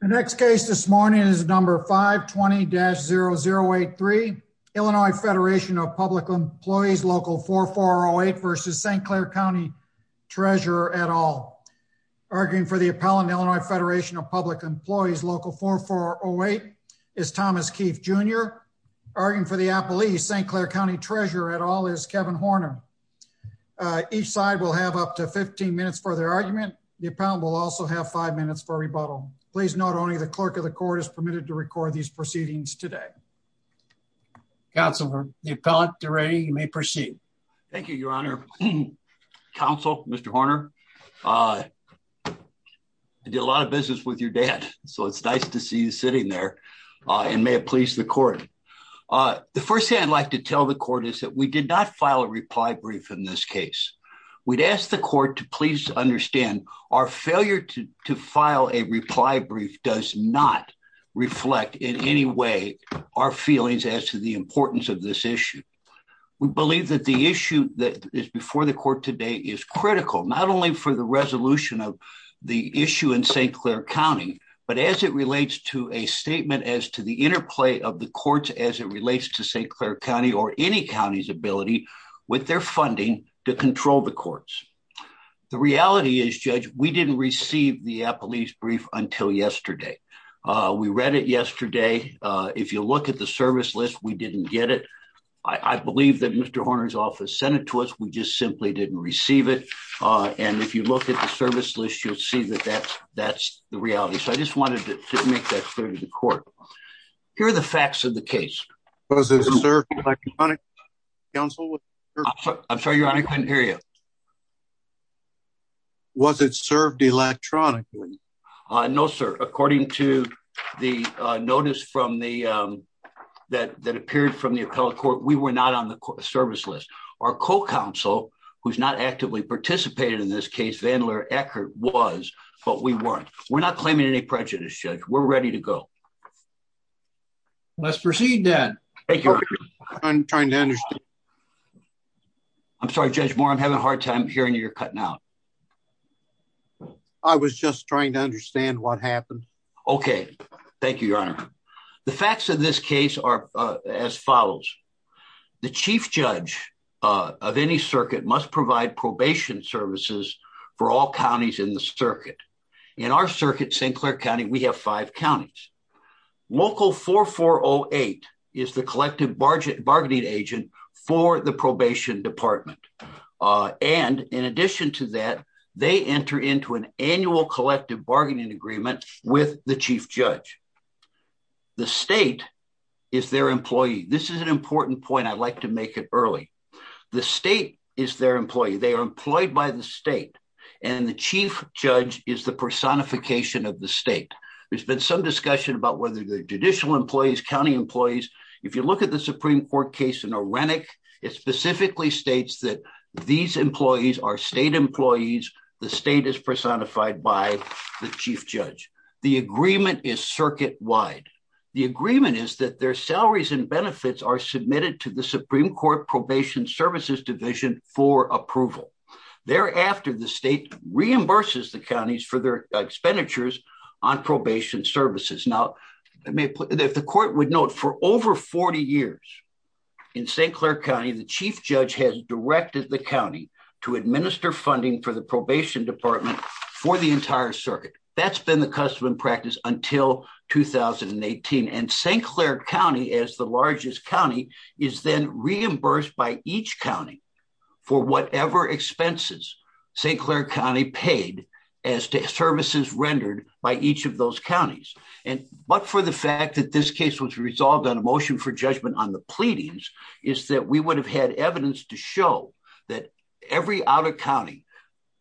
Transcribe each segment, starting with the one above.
The next case this morning is number 520-0083, Illinois Federation of Public Employees Local 4408 v. St. Clair County Treasurer et al. Arguing for the appellant, Illinois Federation of Public Employees Local 4408 is Thomas Keefe Jr. Arguing for the appellee, St. Clair County Treasurer et al. is Kevin Horner. Each side will have up to 15 minutes for their argument. The appellant will also have 5 minutes for rebuttal. Please note only the clerk of the court is permitted to record these proceedings today. Counselor, the appellant is ready. You may proceed. Thank you, Your Honor. Counsel, Mr. Horner, I did a lot of business with your dad, so it's nice to see you sitting there and may it please the court. The first thing I'd like to tell the court is that we did not file a reply brief in this case. We'd ask the court to please understand our failure to file a reply brief does not reflect in any way our feelings as to the importance of this issue. We believe that the issue that is before the court today is critical, not only for the resolution of the issue in St. Clair County, but as it relates to a statement as to the interplay of the courts as it relates to St. Clair County or any county's ability with their funding to control the courts. The reality is, Judge, we didn't receive the appellee's brief until yesterday. We read it yesterday. If you look at the service list, we didn't get it. I believe that Mr. Horner's office sent it to us. We just simply didn't receive it. And if you look at the service list, you'll see that that's the reality. So I just wanted to make that clear to the court. Here are the facts of the case. Was it served electronically, Counsel? I'm sorry, Your Honor, I couldn't hear you. Was it served electronically? No, sir. According to the notice that appeared from the appellate court, we were not on the service list. Our co-counsel, who's not actively participated in this case, Vandler Eckert, was, but we weren't. We're not claiming any prejudice, Judge. We're ready to go. Let's proceed, then. Thank you. I'm trying to understand. I'm sorry, Judge Moore, I'm having a hard time hearing you. You're cutting out. I was just trying to understand what happened. Okay. Thank you, Your Honor. The facts of this case are as follows. The chief judge of any circuit must provide probation services for all counties in the circuit. In our circuit, St. Clair County, we have five counties. Local 4408 is the collective bargaining agent for the probation department. And in addition to that, they enter into an annual collective bargaining agreement with the chief judge. The state is their employee. This is an important point. I'd like to make it early. The state is their employee. They are employed by the state. And the chief judge is the personification of the state. There's been some discussion about whether they're judicial employees, county employees. If you look at the Supreme Court case in Orenic, it specifically states that these employees are state employees. The state is personified by the chief judge. The agreement is circuit-wide. The agreement is that their salaries and benefits are submitted to the Supreme Court Probation Services Division for approval. Thereafter, the state reimburses the counties for their expenditures on probation services. If the court would note, for over 40 years in St. Clair County, the chief judge has directed the county to administer funding for the probation department for the entire circuit. That's been the custom and practice until 2018. And St. Clair County, as the largest county, is then reimbursed by each county for whatever expenses St. Clair County paid as to services rendered by each of those counties. But for the fact that this case was resolved on a motion for judgment on the pleadings is that we would have had evidence to show that every outer county,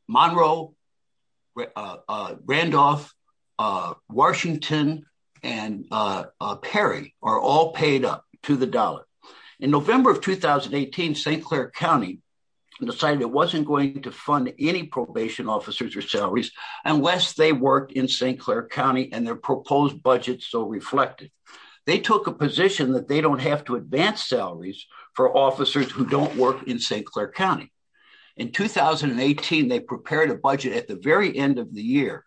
Monroe, Randolph, Washington, and Perry are all paid up to the dollar. In November of 2018, St. Clair County decided it wasn't going to fund any probation officers or salaries unless they worked in St. Clair County and their proposed budget so reflected. They took a position that they don't have to advance salaries for officers who don't work in St. Clair County. In 2018, they prepared a budget at the very end of the year.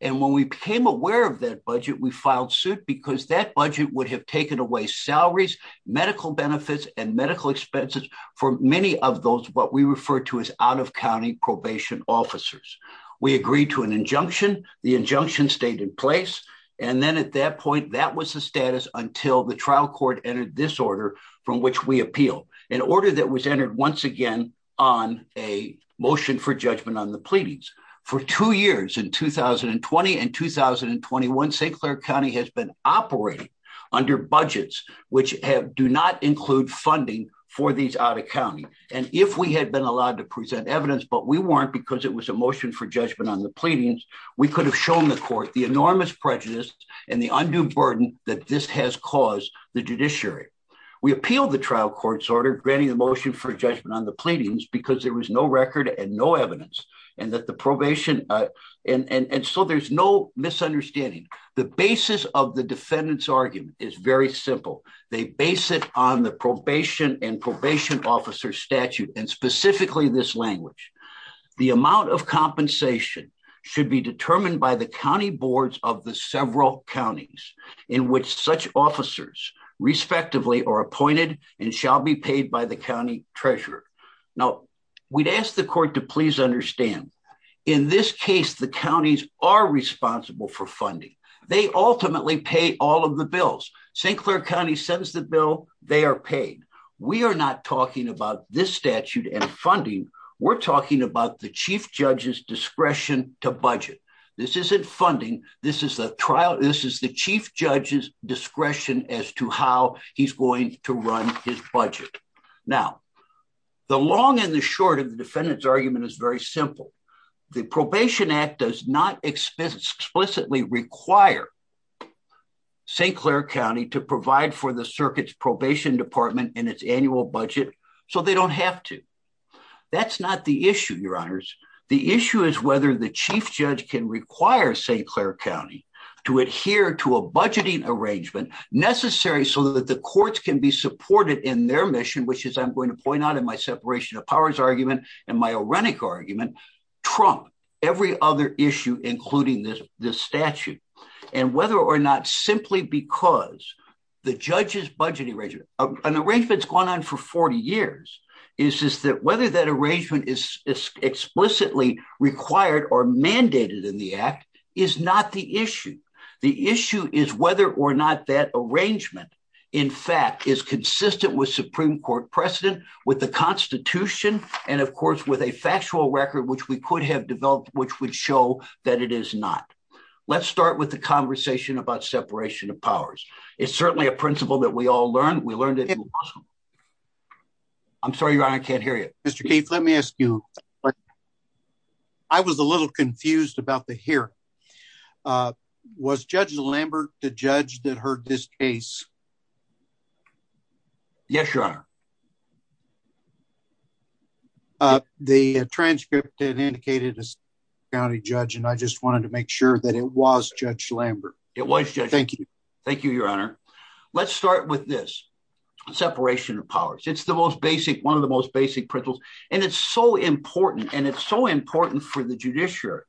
And when we became aware of that budget, we filed suit because that budget would have taken away salaries, medical benefits, and medical expenses for many of those what we refer to as out of county probation officers. We agreed to an injunction. The injunction stayed in place. And then at that point, that was the status until the trial court entered this order from which we appealed. An order that was entered once again on a motion for judgment on the pleadings. For two years, in 2020 and 2021, St. Clair County has been operating under budgets which do not include funding for these out of county. And if we had been allowed to present evidence, but we weren't because it was a motion for judgment on the pleadings, we could have shown the court the enormous prejudice and the undue burden that this has caused the judiciary. We appealed the trial court's order granting the motion for judgment on the pleadings because there was no record and no evidence. And so there's no misunderstanding. The basis of the defendant's argument is very simple. They base it on the probation and probation officer statute and specifically this language. The amount of compensation should be determined by the county boards of the several counties in which such officers respectively are appointed and shall be paid by the county treasurer. Now, we'd ask the court to please understand. In this case, the counties are responsible for funding. They ultimately pay all of the bills. St. Clair County sends the bill. They are paid. We are not talking about this statute and funding. We're talking about the chief judge's discretion to budget. This isn't funding. This is the trial. This is the chief judge's discretion as to how he's going to run his budget. Now, the long and the short of the defendant's argument is very simple. The Probation Act does not explicitly require St. Clair County to provide for the circuit's probation department in its annual budget so they don't have to. That's not the issue, your honors. The issue is whether the chief judge can require St. Clair County to adhere to a budgeting arrangement necessary so that the courts can be supported in their mission, which is I'm going to point out in my separation of powers argument and my orenic argument, trump every other issue, including this statute. And whether or not simply because the judge's budget arrangement, an arrangement that's gone on for 40 years, is that whether that arrangement is explicitly required or mandated in the act is not the issue. The issue is whether or not that arrangement, in fact, is consistent with Supreme Court precedent, with the Constitution, and, of course, with a factual record, which we could have developed, which would show that it is not. Let's start with the conversation about separation of powers. It's certainly a principle that we all learned. We learned it. I'm sorry, your honor, I can't hear you. Mr. Keith, let me ask you. I was a little confused about the hearing. Was Judge Lambert the judge that heard this case? Yes, your honor. The transcript indicated a county judge, and I just wanted to make sure that it was Judge Lambert. It was. Thank you. Thank you, your honor. Let's start with this separation of powers. It's the most basic one of the most basic principles. And it's so important and it's so important for the judiciary.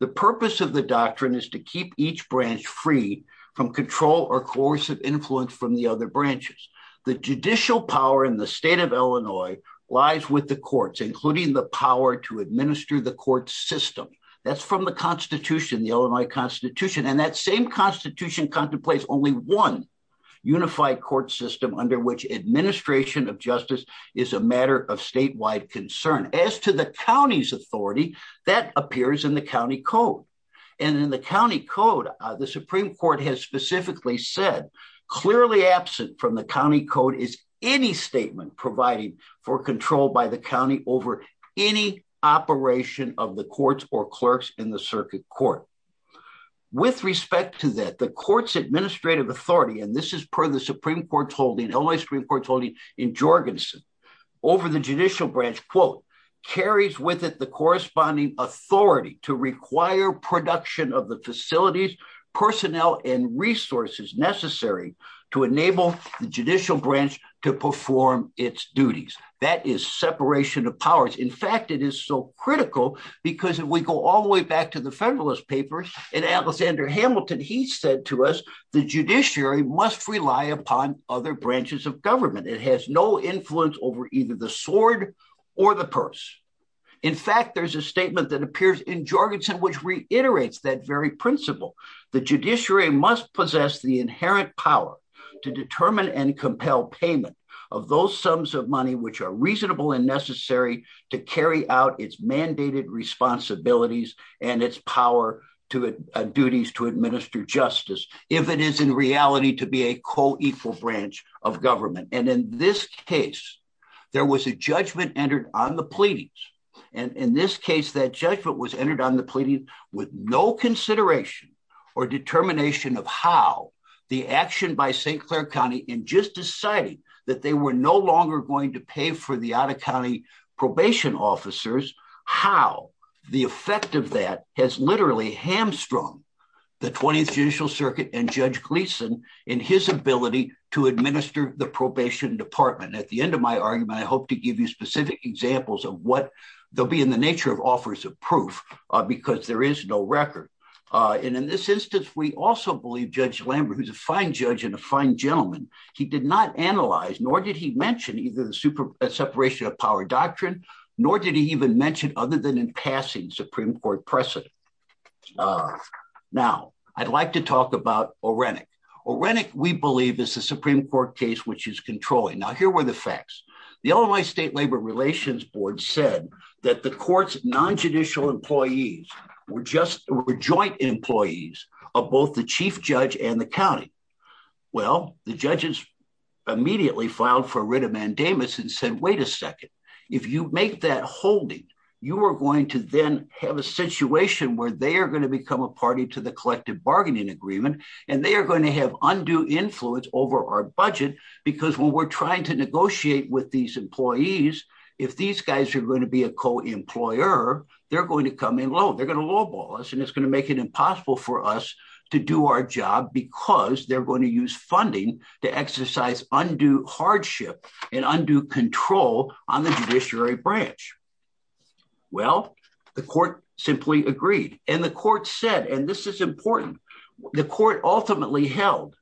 The purpose of the doctrine is to keep each branch free from control or coercive influence from the other branches. The judicial power in the state of Illinois lies with the courts, including the power to administer the court system. That's from the Constitution, the Illinois Constitution. And that same Constitution contemplates only one unified court system under which administration of justice is a matter of statewide concern. As to the county's authority, that appears in the county code. And in the county code, the Supreme Court has specifically said clearly absent from the county code is any statement providing for control by the county over any operation of the courts or clerks in the circuit court. With respect to that, the court's administrative authority, and this is per the Supreme Court's holding, Illinois Supreme Court's holding in Jorgensen, over the judicial branch, quote, carries with it the corresponding authority to require production of the facilities, personnel and resources necessary to enable the judicial branch to perform its duties. That is separation of powers. In fact, it is so critical because if we go all the way back to the Federalist Papers, in Alexander Hamilton, he said to us, the judiciary must rely upon other branches of government. It has no influence over either the sword or the purse. In fact, there's a statement that appears in Jorgensen which reiterates that very principle. The judiciary must possess the inherent power to determine and compel payment of those sums of money which are reasonable and necessary to carry out its mandated responsibilities and its power to duties to administer justice, if it is in reality to be a co-equal branch of government. And in this case, there was a judgment entered on the pleadings. And in this case, that judgment was entered on the pleading with no consideration or determination of how the action by St. Clair County in just deciding that they were no longer going to pay for the out-of-county probation officers, how the effect of that has literally hamstrung the 20th Judicial Circuit and Judge Gleeson in his ability to administer the probation department. And at the end of my argument, I hope to give you specific examples of what they'll be in the nature of offers of proof, because there is no record. And in this instance, we also believe Judge Lambert, who's a fine judge and a fine gentleman, he did not analyze nor did he mention either the separation of power doctrine, nor did he even mention other than in passing Supreme Court precedent. Now, I'd like to talk about Orenic. Orenic, we believe, is a Supreme Court case which is controlling. Now, here were the facts. The Illinois State Labor Relations Board said that the court's non-judicial employees were just joint employees of both the chief judge and the county. Well, the judges immediately filed for writ of mandamus and said, wait a second. If you make that holding, you are going to then have a situation where they are going to become a party to the collective bargaining agreement, and they are going to have undue influence over our budget, because when we're trying to negotiate with these employees, if these guys are going to be a co-employer, they're going to come in low. And it's going to make it impossible for us to do our job, because they're going to use funding to exercise undue hardship and undue control on the judiciary branch. Well, the court simply agreed. And the court said, and this is important, the court ultimately held,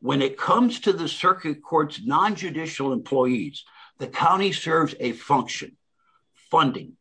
when it comes to the circuit court's non-judicial employees, the county serves a function, funding,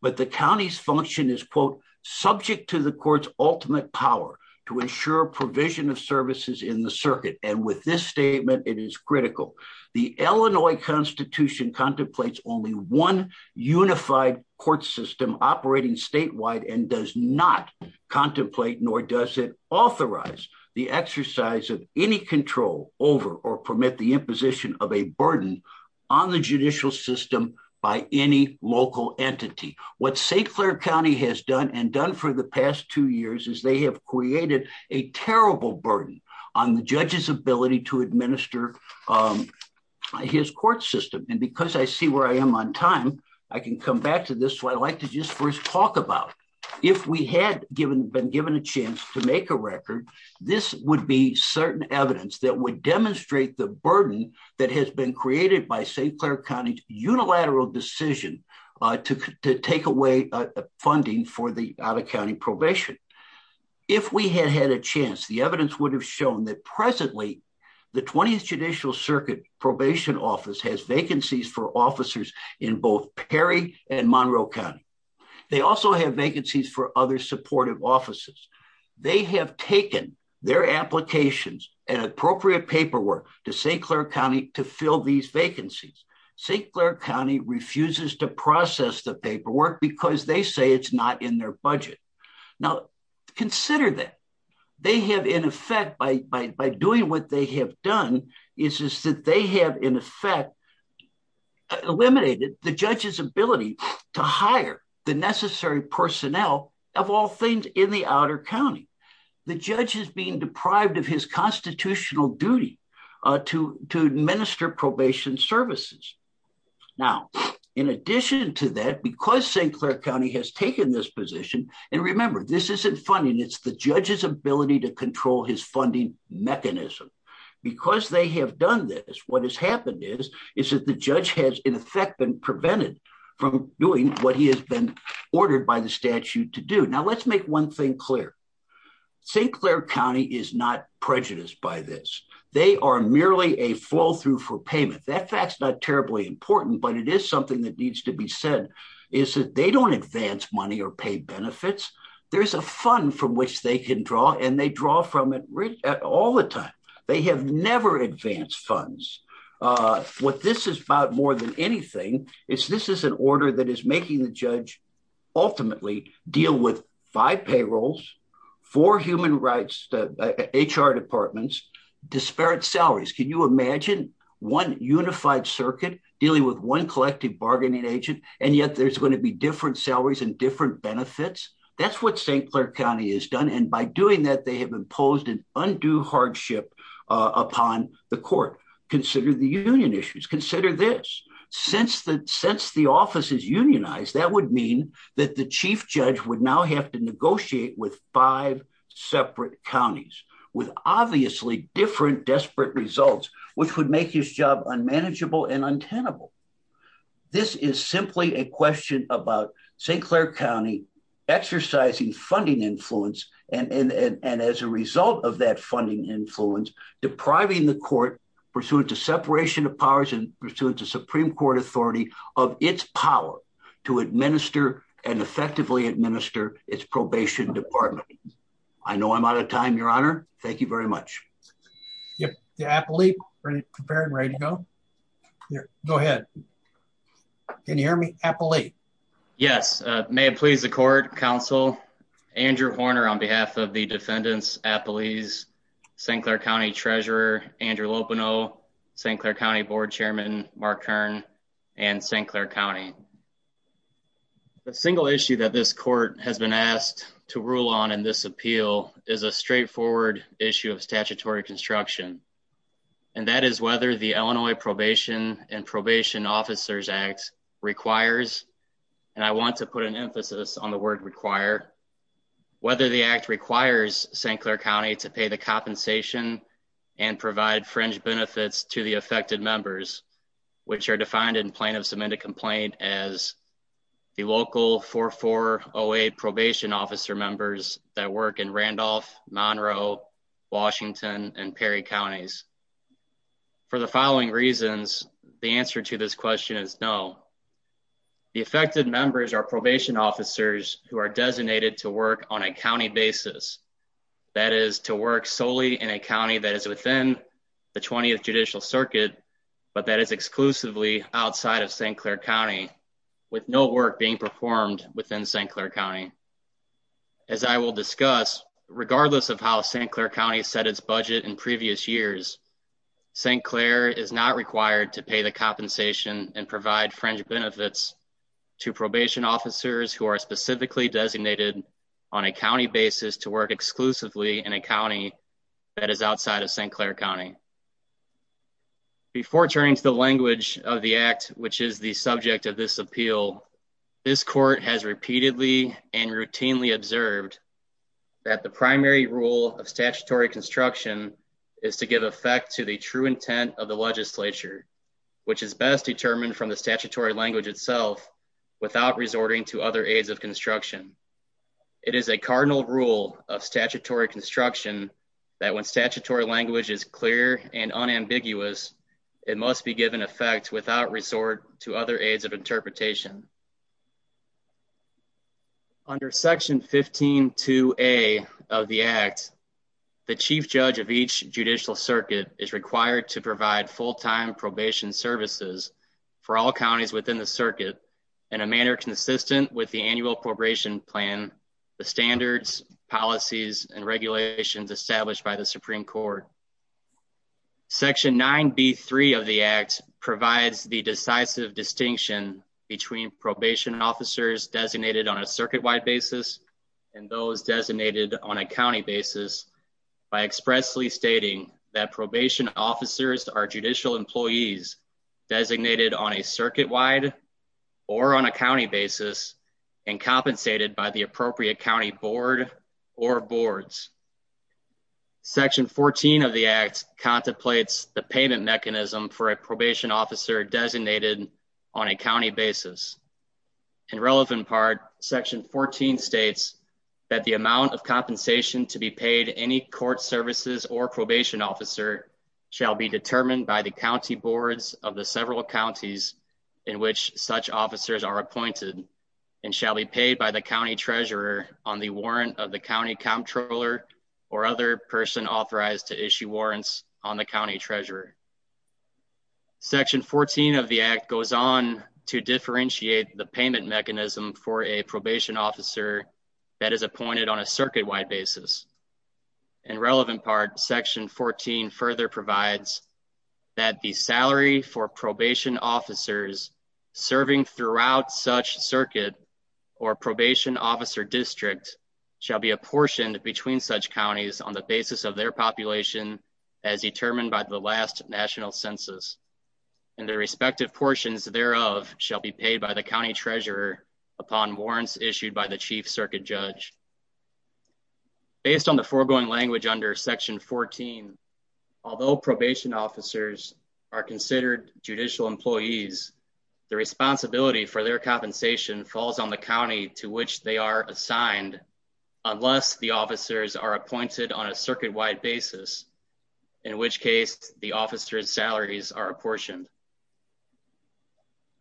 but the county's function is, quote, subject to the court's ultimate power to ensure provision of services in the circuit. And with this statement, it is critical. The Illinois Constitution contemplates only one unified court system operating statewide and does not contemplate, nor does it authorize, the exercise of any control over or permit the imposition of a burden on the judicial system by any local entity. What St. Clair County has done and done for the past two years is they have created a terrible burden on the judge's ability to administer his court system. And because I see where I am on time, I can come back to this, what I'd like to just first talk about. If we had been given a chance to make a record, this would be certain evidence that would demonstrate the burden that has been created by St. Clair County's unilateral decision to take away funding for the out-of-county probation. If we had had a chance, the evidence would have shown that presently the 20th Judicial Circuit Probation Office has vacancies for officers in both Perry and Monroe County. They also have vacancies for other supportive offices. They have taken their applications and appropriate paperwork to St. Clair County to fill these vacancies. St. Clair County refuses to process the paperwork because they say it's not in their budget. Now, consider that. They have in effect, by doing what they have done, is that they have in effect eliminated the judge's ability to hire the necessary personnel of all things in the outer county. The judge is being deprived of his constitutional duty to administer probation services. Now, in addition to that, because St. Clair County has taken this position, and remember, this isn't funding, it's the judge's ability to control his funding mechanism. Because they have done this, what has happened is, is that the judge has in effect been prevented from doing what he has been ordered by the statute to do. Now, let's make one thing clear. St. Clair County is not prejudiced by this. They are merely a flow-through for payment. That fact's not terribly important, but it is something that needs to be said, is that they don't advance money or pay benefits. There's a fund from which they can draw, and they draw from it all the time. They have never advanced funds. What this is about more than anything, is this is an order that is making the judge ultimately deal with five payrolls, four human rights, HR departments, disparate salaries. Can you imagine one unified circuit dealing with one collective bargaining agent, and yet there's going to be different salaries and different benefits? That's what St. Clair County has done, and by doing that, they have imposed an undue hardship upon the court. Consider the union issues. Consider this. Since the office is unionized, that would mean that the chief judge would now have to negotiate with five separate counties, with obviously different desperate results, which would make his job unmanageable and untenable. This is simply a question about St. Clair County exercising funding influence, and as a result of that funding influence, depriving the court pursuant to separation of powers and pursuant to Supreme Court authority of its power to administer and effectively administer its probation department. I know I'm out of time, Your Honor. Thank you very much. The appellee, are you prepared and ready to go? Go ahead. Can you hear me, appellee? Yes. May it please the court, counsel, Andrew Horner on behalf of the defendants, appellees, St. Clair County Treasurer Andrew Lopono, St. Clair County Board Chairman Mark Kern, and St. Clair County. The single issue that this court has been asked to rule on in this appeal is a straightforward issue of statutory construction, and that is whether the Illinois Probation and Probation Officers Act requires, and I want to put an emphasis on the word require, whether the act requires St. Clair County to pay the compensation and provide fringe benefits to the affected members, which are defined in plaintiff's amended complaint as the local 4408 probation officer members that work in Randolph, Monroe, Washington, and Perry counties. For the following reasons, the answer to this question is no. The affected members are probation officers who are designated to work on a county basis. That is to work solely in a county that is within the 20th Judicial Circuit, but that is exclusively outside of St. Clair County with no work being performed within St. Clair County. As I will discuss, regardless of how St. Clair County set its budget in previous years, St. Clair is not required to pay the compensation and provide fringe benefits to probation officers who are specifically designated on a county basis to work exclusively in a county that is outside of St. Clair County. Before turning to the language of the act, which is the subject of this appeal, this court has repeatedly and routinely observed that the primary rule of statutory construction is to give effect to the true intent of the legislature, which is best determined from the statutory language itself, without resorting to other aids of construction. It is a cardinal rule of statutory construction that when statutory language is clear and unambiguous, it must be given effect without resort to other aids of interpretation. Under Section 15.2.A of the Act, the Chief Judge of each Judicial Circuit is required to provide full-time probation services for all counties within the circuit in a manner consistent with the annual probation plan, the standards, policies, and regulations established by the Supreme Court. Section 9.B.3 of the Act provides the decisive distinction between probation officers designated on a circuit-wide basis and those designated on a county basis by expressly stating that probation officers are judicial employees designated on a circuit-wide or on a county basis and compensated by the appropriate county board or boards. Section 14 of the Act contemplates the payment mechanism for a probation officer designated on a county basis. In relevant part, Section 14 states that the amount of compensation to be paid to any court services or probation officer shall be determined by the county boards of the several counties in which such officers are appointed and shall be paid by the county treasurer on the warrant of the county comptroller or other person authorized to issue warrants on the county treasurer. Section 14 of the Act goes on to differentiate the payment mechanism for a probation officer that is appointed on a circuit-wide basis. In relevant part, Section 14 further provides that the salary for probation officers serving throughout such circuit or probation officer district shall be apportioned between such counties on the basis of their population as determined by the last national census, and the respective portions thereof shall be paid by the county treasurer upon warrants issued by the chief circuit judge. Based on the foregoing language under Section 14, although probation officers are considered judicial employees, the responsibility for their compensation falls on the county to which they are assigned unless the officers are appointed on a circuit-wide basis, in which case the officers' salaries are apportioned.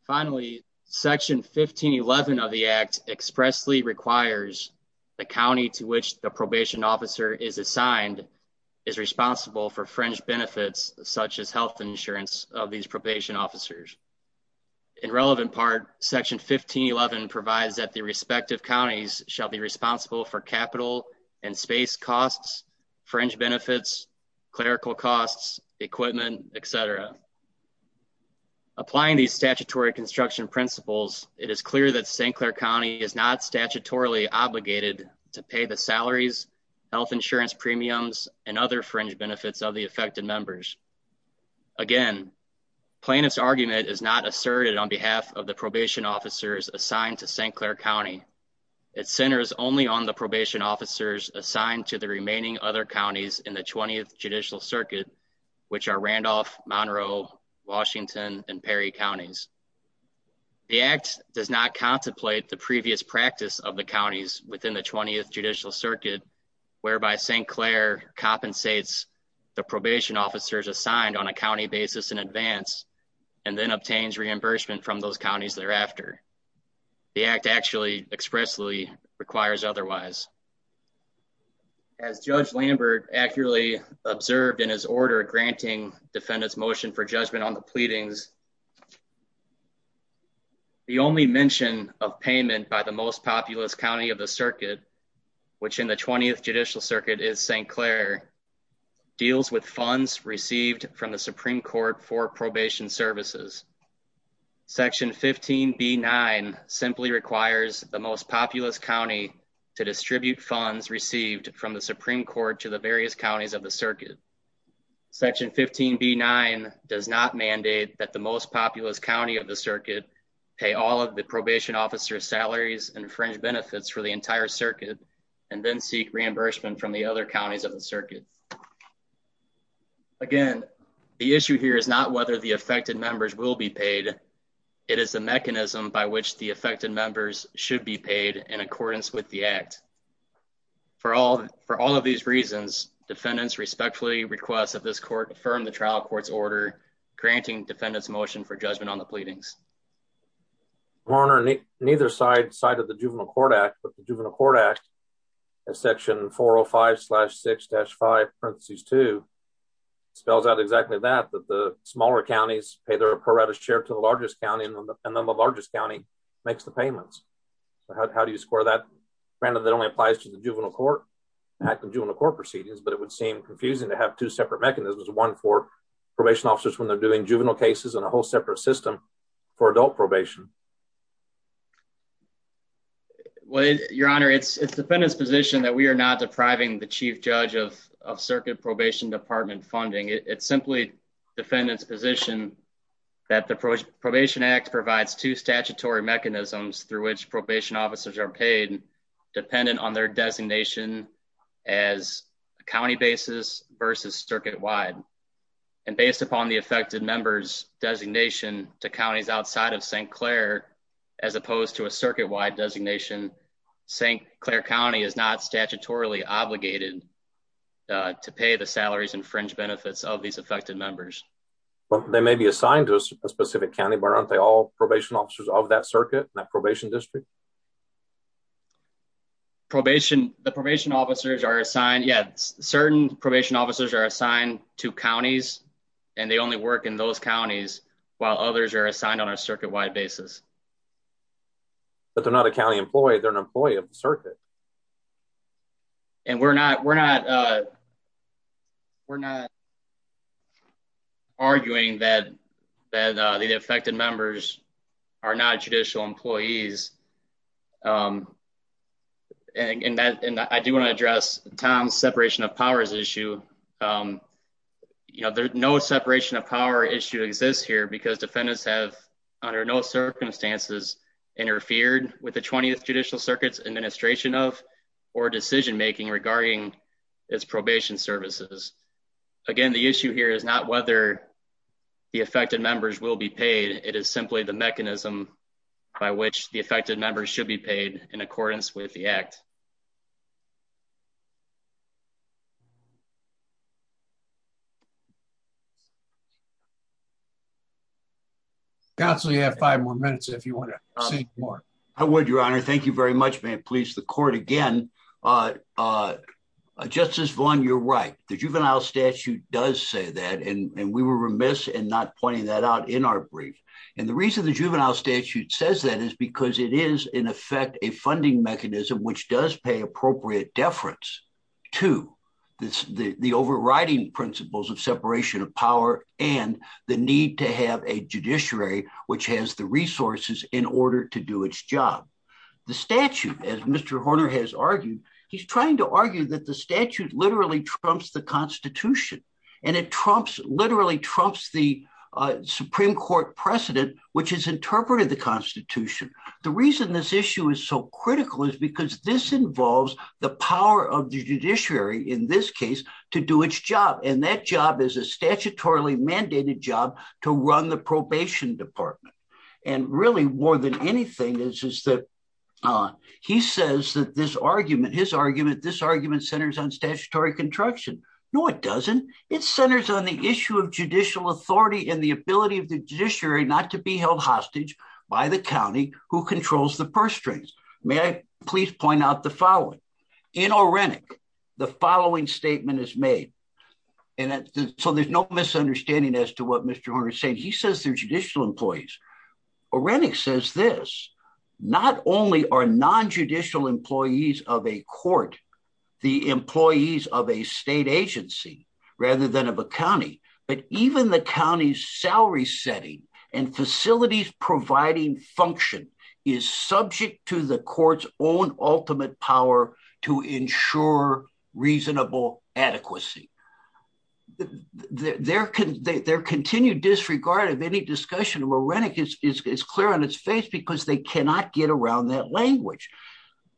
Finally, Section 1511 of the Act expressly requires the county to which the probation officer is assigned is responsible for fringe benefits such as health insurance of these probation officers. In relevant part, Section 1511 provides that the respective counties shall be responsible for capital and space costs, fringe benefits, clerical costs, equipment, etc. Applying these statutory construction principles, it is clear that St. Clair County is not statutorily obligated to pay the salaries, health insurance premiums, and other fringe benefits of the affected members. Again, plaintiff's argument is not asserted on behalf of the probation officers assigned to St. Clair County. It centers only on the probation officers assigned to the remaining other counties in the 20th Judicial Circuit, which are Randolph, Monroe, Washington, and Perry counties. The Act does not contemplate the previous practice of the counties within the 20th Judicial Circuit, whereby St. Clair compensates the probation officers assigned on a county basis in advance and then obtains reimbursement from those counties thereafter. The Act actually expressly requires otherwise. As Judge Lambert accurately observed in his order granting defendant's motion for judgment on the pleadings, the only mention of payment by the most populous county of the circuit, which in the 20th Judicial Circuit is St. Clair, deals with funds received from the Supreme Court for probation services. Section 15B-9 simply requires the most populous county to distribute funds received from the Supreme Court to the various counties of the circuit. Section 15B-9 does not mandate that the most populous county of the circuit pay all of the probation officers' salaries and fringe benefits for the entire circuit and then seek reimbursement from the other counties of the circuit. Again, the issue here is not whether the affected members will be paid. It is the mechanism by which the affected members should be paid in accordance with the Act. For all of these reasons, defendants respectfully request that this Court affirm the trial court's order granting defendant's motion for judgment on the pleadings. Your Honor, neither side cited the Juvenile Court Act, but the Juvenile Court Act, Section 405-6-5-2, spells out exactly that, that the smaller counties pay their apparatus share to the largest county, and then the largest county makes the payments. How do you square that? Granted, that only applies to the juvenile court proceedings, but it would seem confusing to have two separate mechanisms, one for probation officers when they're doing juvenile cases and a whole separate system for adult probation. Your Honor, it's defendant's position that we are not depriving the Chief Judge of Circuit Probation Department funding. It's simply defendant's position that the Probation Act provides two statutory mechanisms through which probation officers are paid, dependent on their designation as county basis versus circuit-wide. And based upon the affected member's designation to counties outside of St. Clair, as opposed to a circuit-wide designation, St. Clair County is not statutorily obligated to pay the salaries and fringe benefits of these affected members. But they may be assigned to a specific county, but aren't they all probation officers of that circuit, that probation district? The probation officers are assigned, yes, certain probation officers are assigned to counties, and they only work in those counties while others are assigned on a circuit-wide basis. But they're not a county employee, they're an employee of the circuit. And we're not arguing that the affected members are not judicial employees. I do want to address Tom's separation of powers issue. No separation of power issue exists here because defendants have, under no circumstances, interfered with the 20th Judicial Circuit's administration of or decision-making regarding its probation services. Again, the issue here is not whether the affected members will be paid, it is simply the mechanism by which the affected members should be paid in accordance with the Act. Thank you. Counsel, you have five more minutes if you want to say more. I would, Your Honor. Thank you very much. May it please the court again. Justice Vaughn, you're right. The juvenile statute does say that, and we were remiss in not pointing that out in our brief. And the reason the juvenile statute says that is because it is, in effect, a funding mechanism, which does pay appropriate deference to the overriding principles of separation of power and the need to have a judiciary which has the resources in order to do its job. The statute, as Mr. Horner has argued, he's trying to argue that the statute literally trumps the Constitution. And it trumps, literally trumps the Supreme Court precedent, which has interpreted the Constitution. The reason this issue is so critical is because this involves the power of the judiciary, in this case, to do its job. And that job is a statutorily mandated job to run the probation department. And really, more than anything, is that he says that this argument, his argument, this argument centers on statutory contraction. No, it doesn't. It centers on the issue of judicial authority and the ability of the judiciary not to be held hostage by the county who controls the purse strings. May I please point out the following? In Orenic, the following statement is made, and so there's no misunderstanding as to what Mr. Horner is saying. He says they're judicial employees. Orenic says this. Not only are non-judicial employees of a court the employees of a state agency rather than of a county, but even the county's salary setting and facilities providing function is subject to the court's own ultimate power to ensure reasonable adequacy. Their continued disregard of any discussion of Orenic is clear on its face because they cannot get around that language.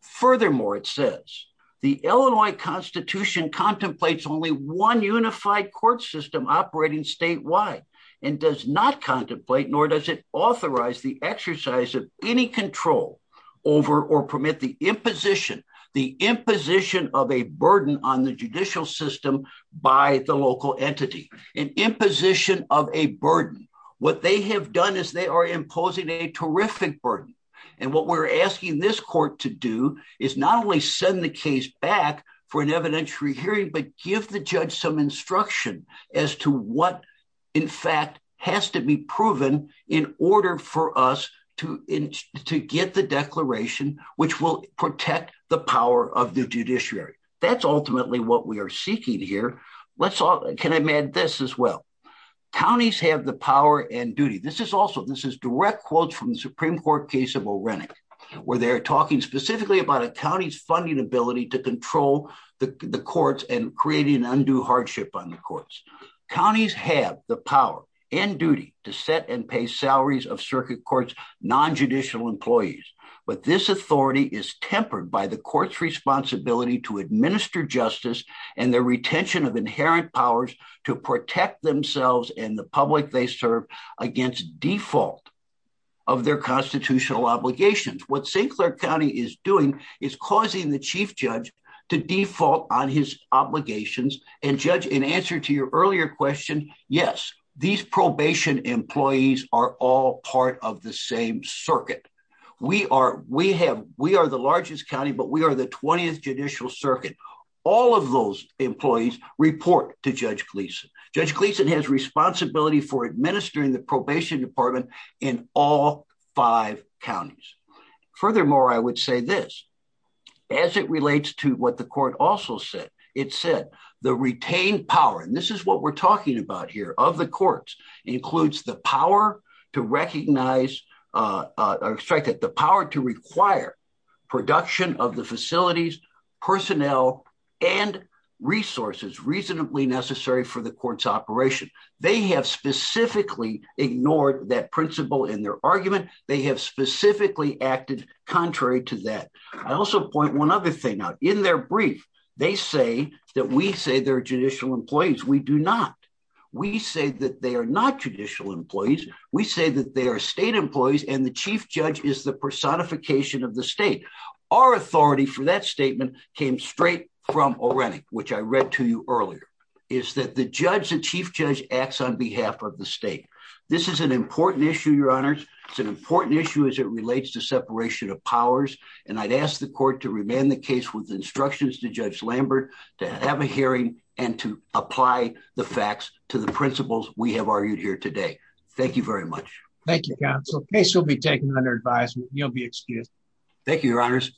Furthermore, it says the Illinois Constitution contemplates only one unified court system operating statewide and does not contemplate nor does it authorize the exercise of any control over or permit the imposition, the imposition of a burden on the judicial system by the local entity, an imposition of a burden. What they have done is they are imposing a terrific burden. And what we're asking this court to do is not only send the case back for an evidentiary hearing, but give the judge some instruction as to what, in fact, has to be proven in order for us to get the declaration, which will protect the power of the judiciary. That's ultimately what we are seeking here. Can I add this as well? Counties have the power and duty. This is also this is direct quotes from the Supreme Court case of Orenic, where they're talking specifically about a county's funding ability to control the courts and creating undue hardship on the courts. Counties have the power and duty to set and pay salaries of circuit courts, non-judicial employees. But this authority is tempered by the court's responsibility to administer justice and the retention of inherent powers to protect themselves and the public they serve against default of their constitutional obligations. What St. Clair County is doing is causing the chief judge to default on his obligations. And judge, in answer to your earlier question, yes, these probation employees are all part of the same circuit. We are we have we are the largest county, but we are the 20th Judicial Circuit. All of those employees report to Judge Gleason. Judge Gleason has responsibility for administering the probation department in all five counties. Furthermore, I would say this as it relates to what the court also said. It said the retained power, and this is what we're talking about here of the courts, includes the power to recognize that the power to require production of the facilities, personnel and resources reasonably necessary for the court's operation. They have specifically ignored that principle in their argument. They have specifically acted contrary to that. I also point one other thing out in their brief. They say that we say they're judicial employees. We do not. We say that they are not judicial employees. We say that they are state employees and the chief judge is the personification of the state. Our authority for that statement came straight from O'Rennick, which I read to you earlier, is that the judge and chief judge acts on behalf of the state. This is an important issue, your honors. It's an important issue as it relates to separation of powers. And I'd ask the court to remain the case with instructions to Judge Lambert to have a hearing and to apply the facts to the principles we have argued here today. Thank you very much. Thank you, counsel. Case will be taken under advisement. You'll be excused. Thank you, your honors.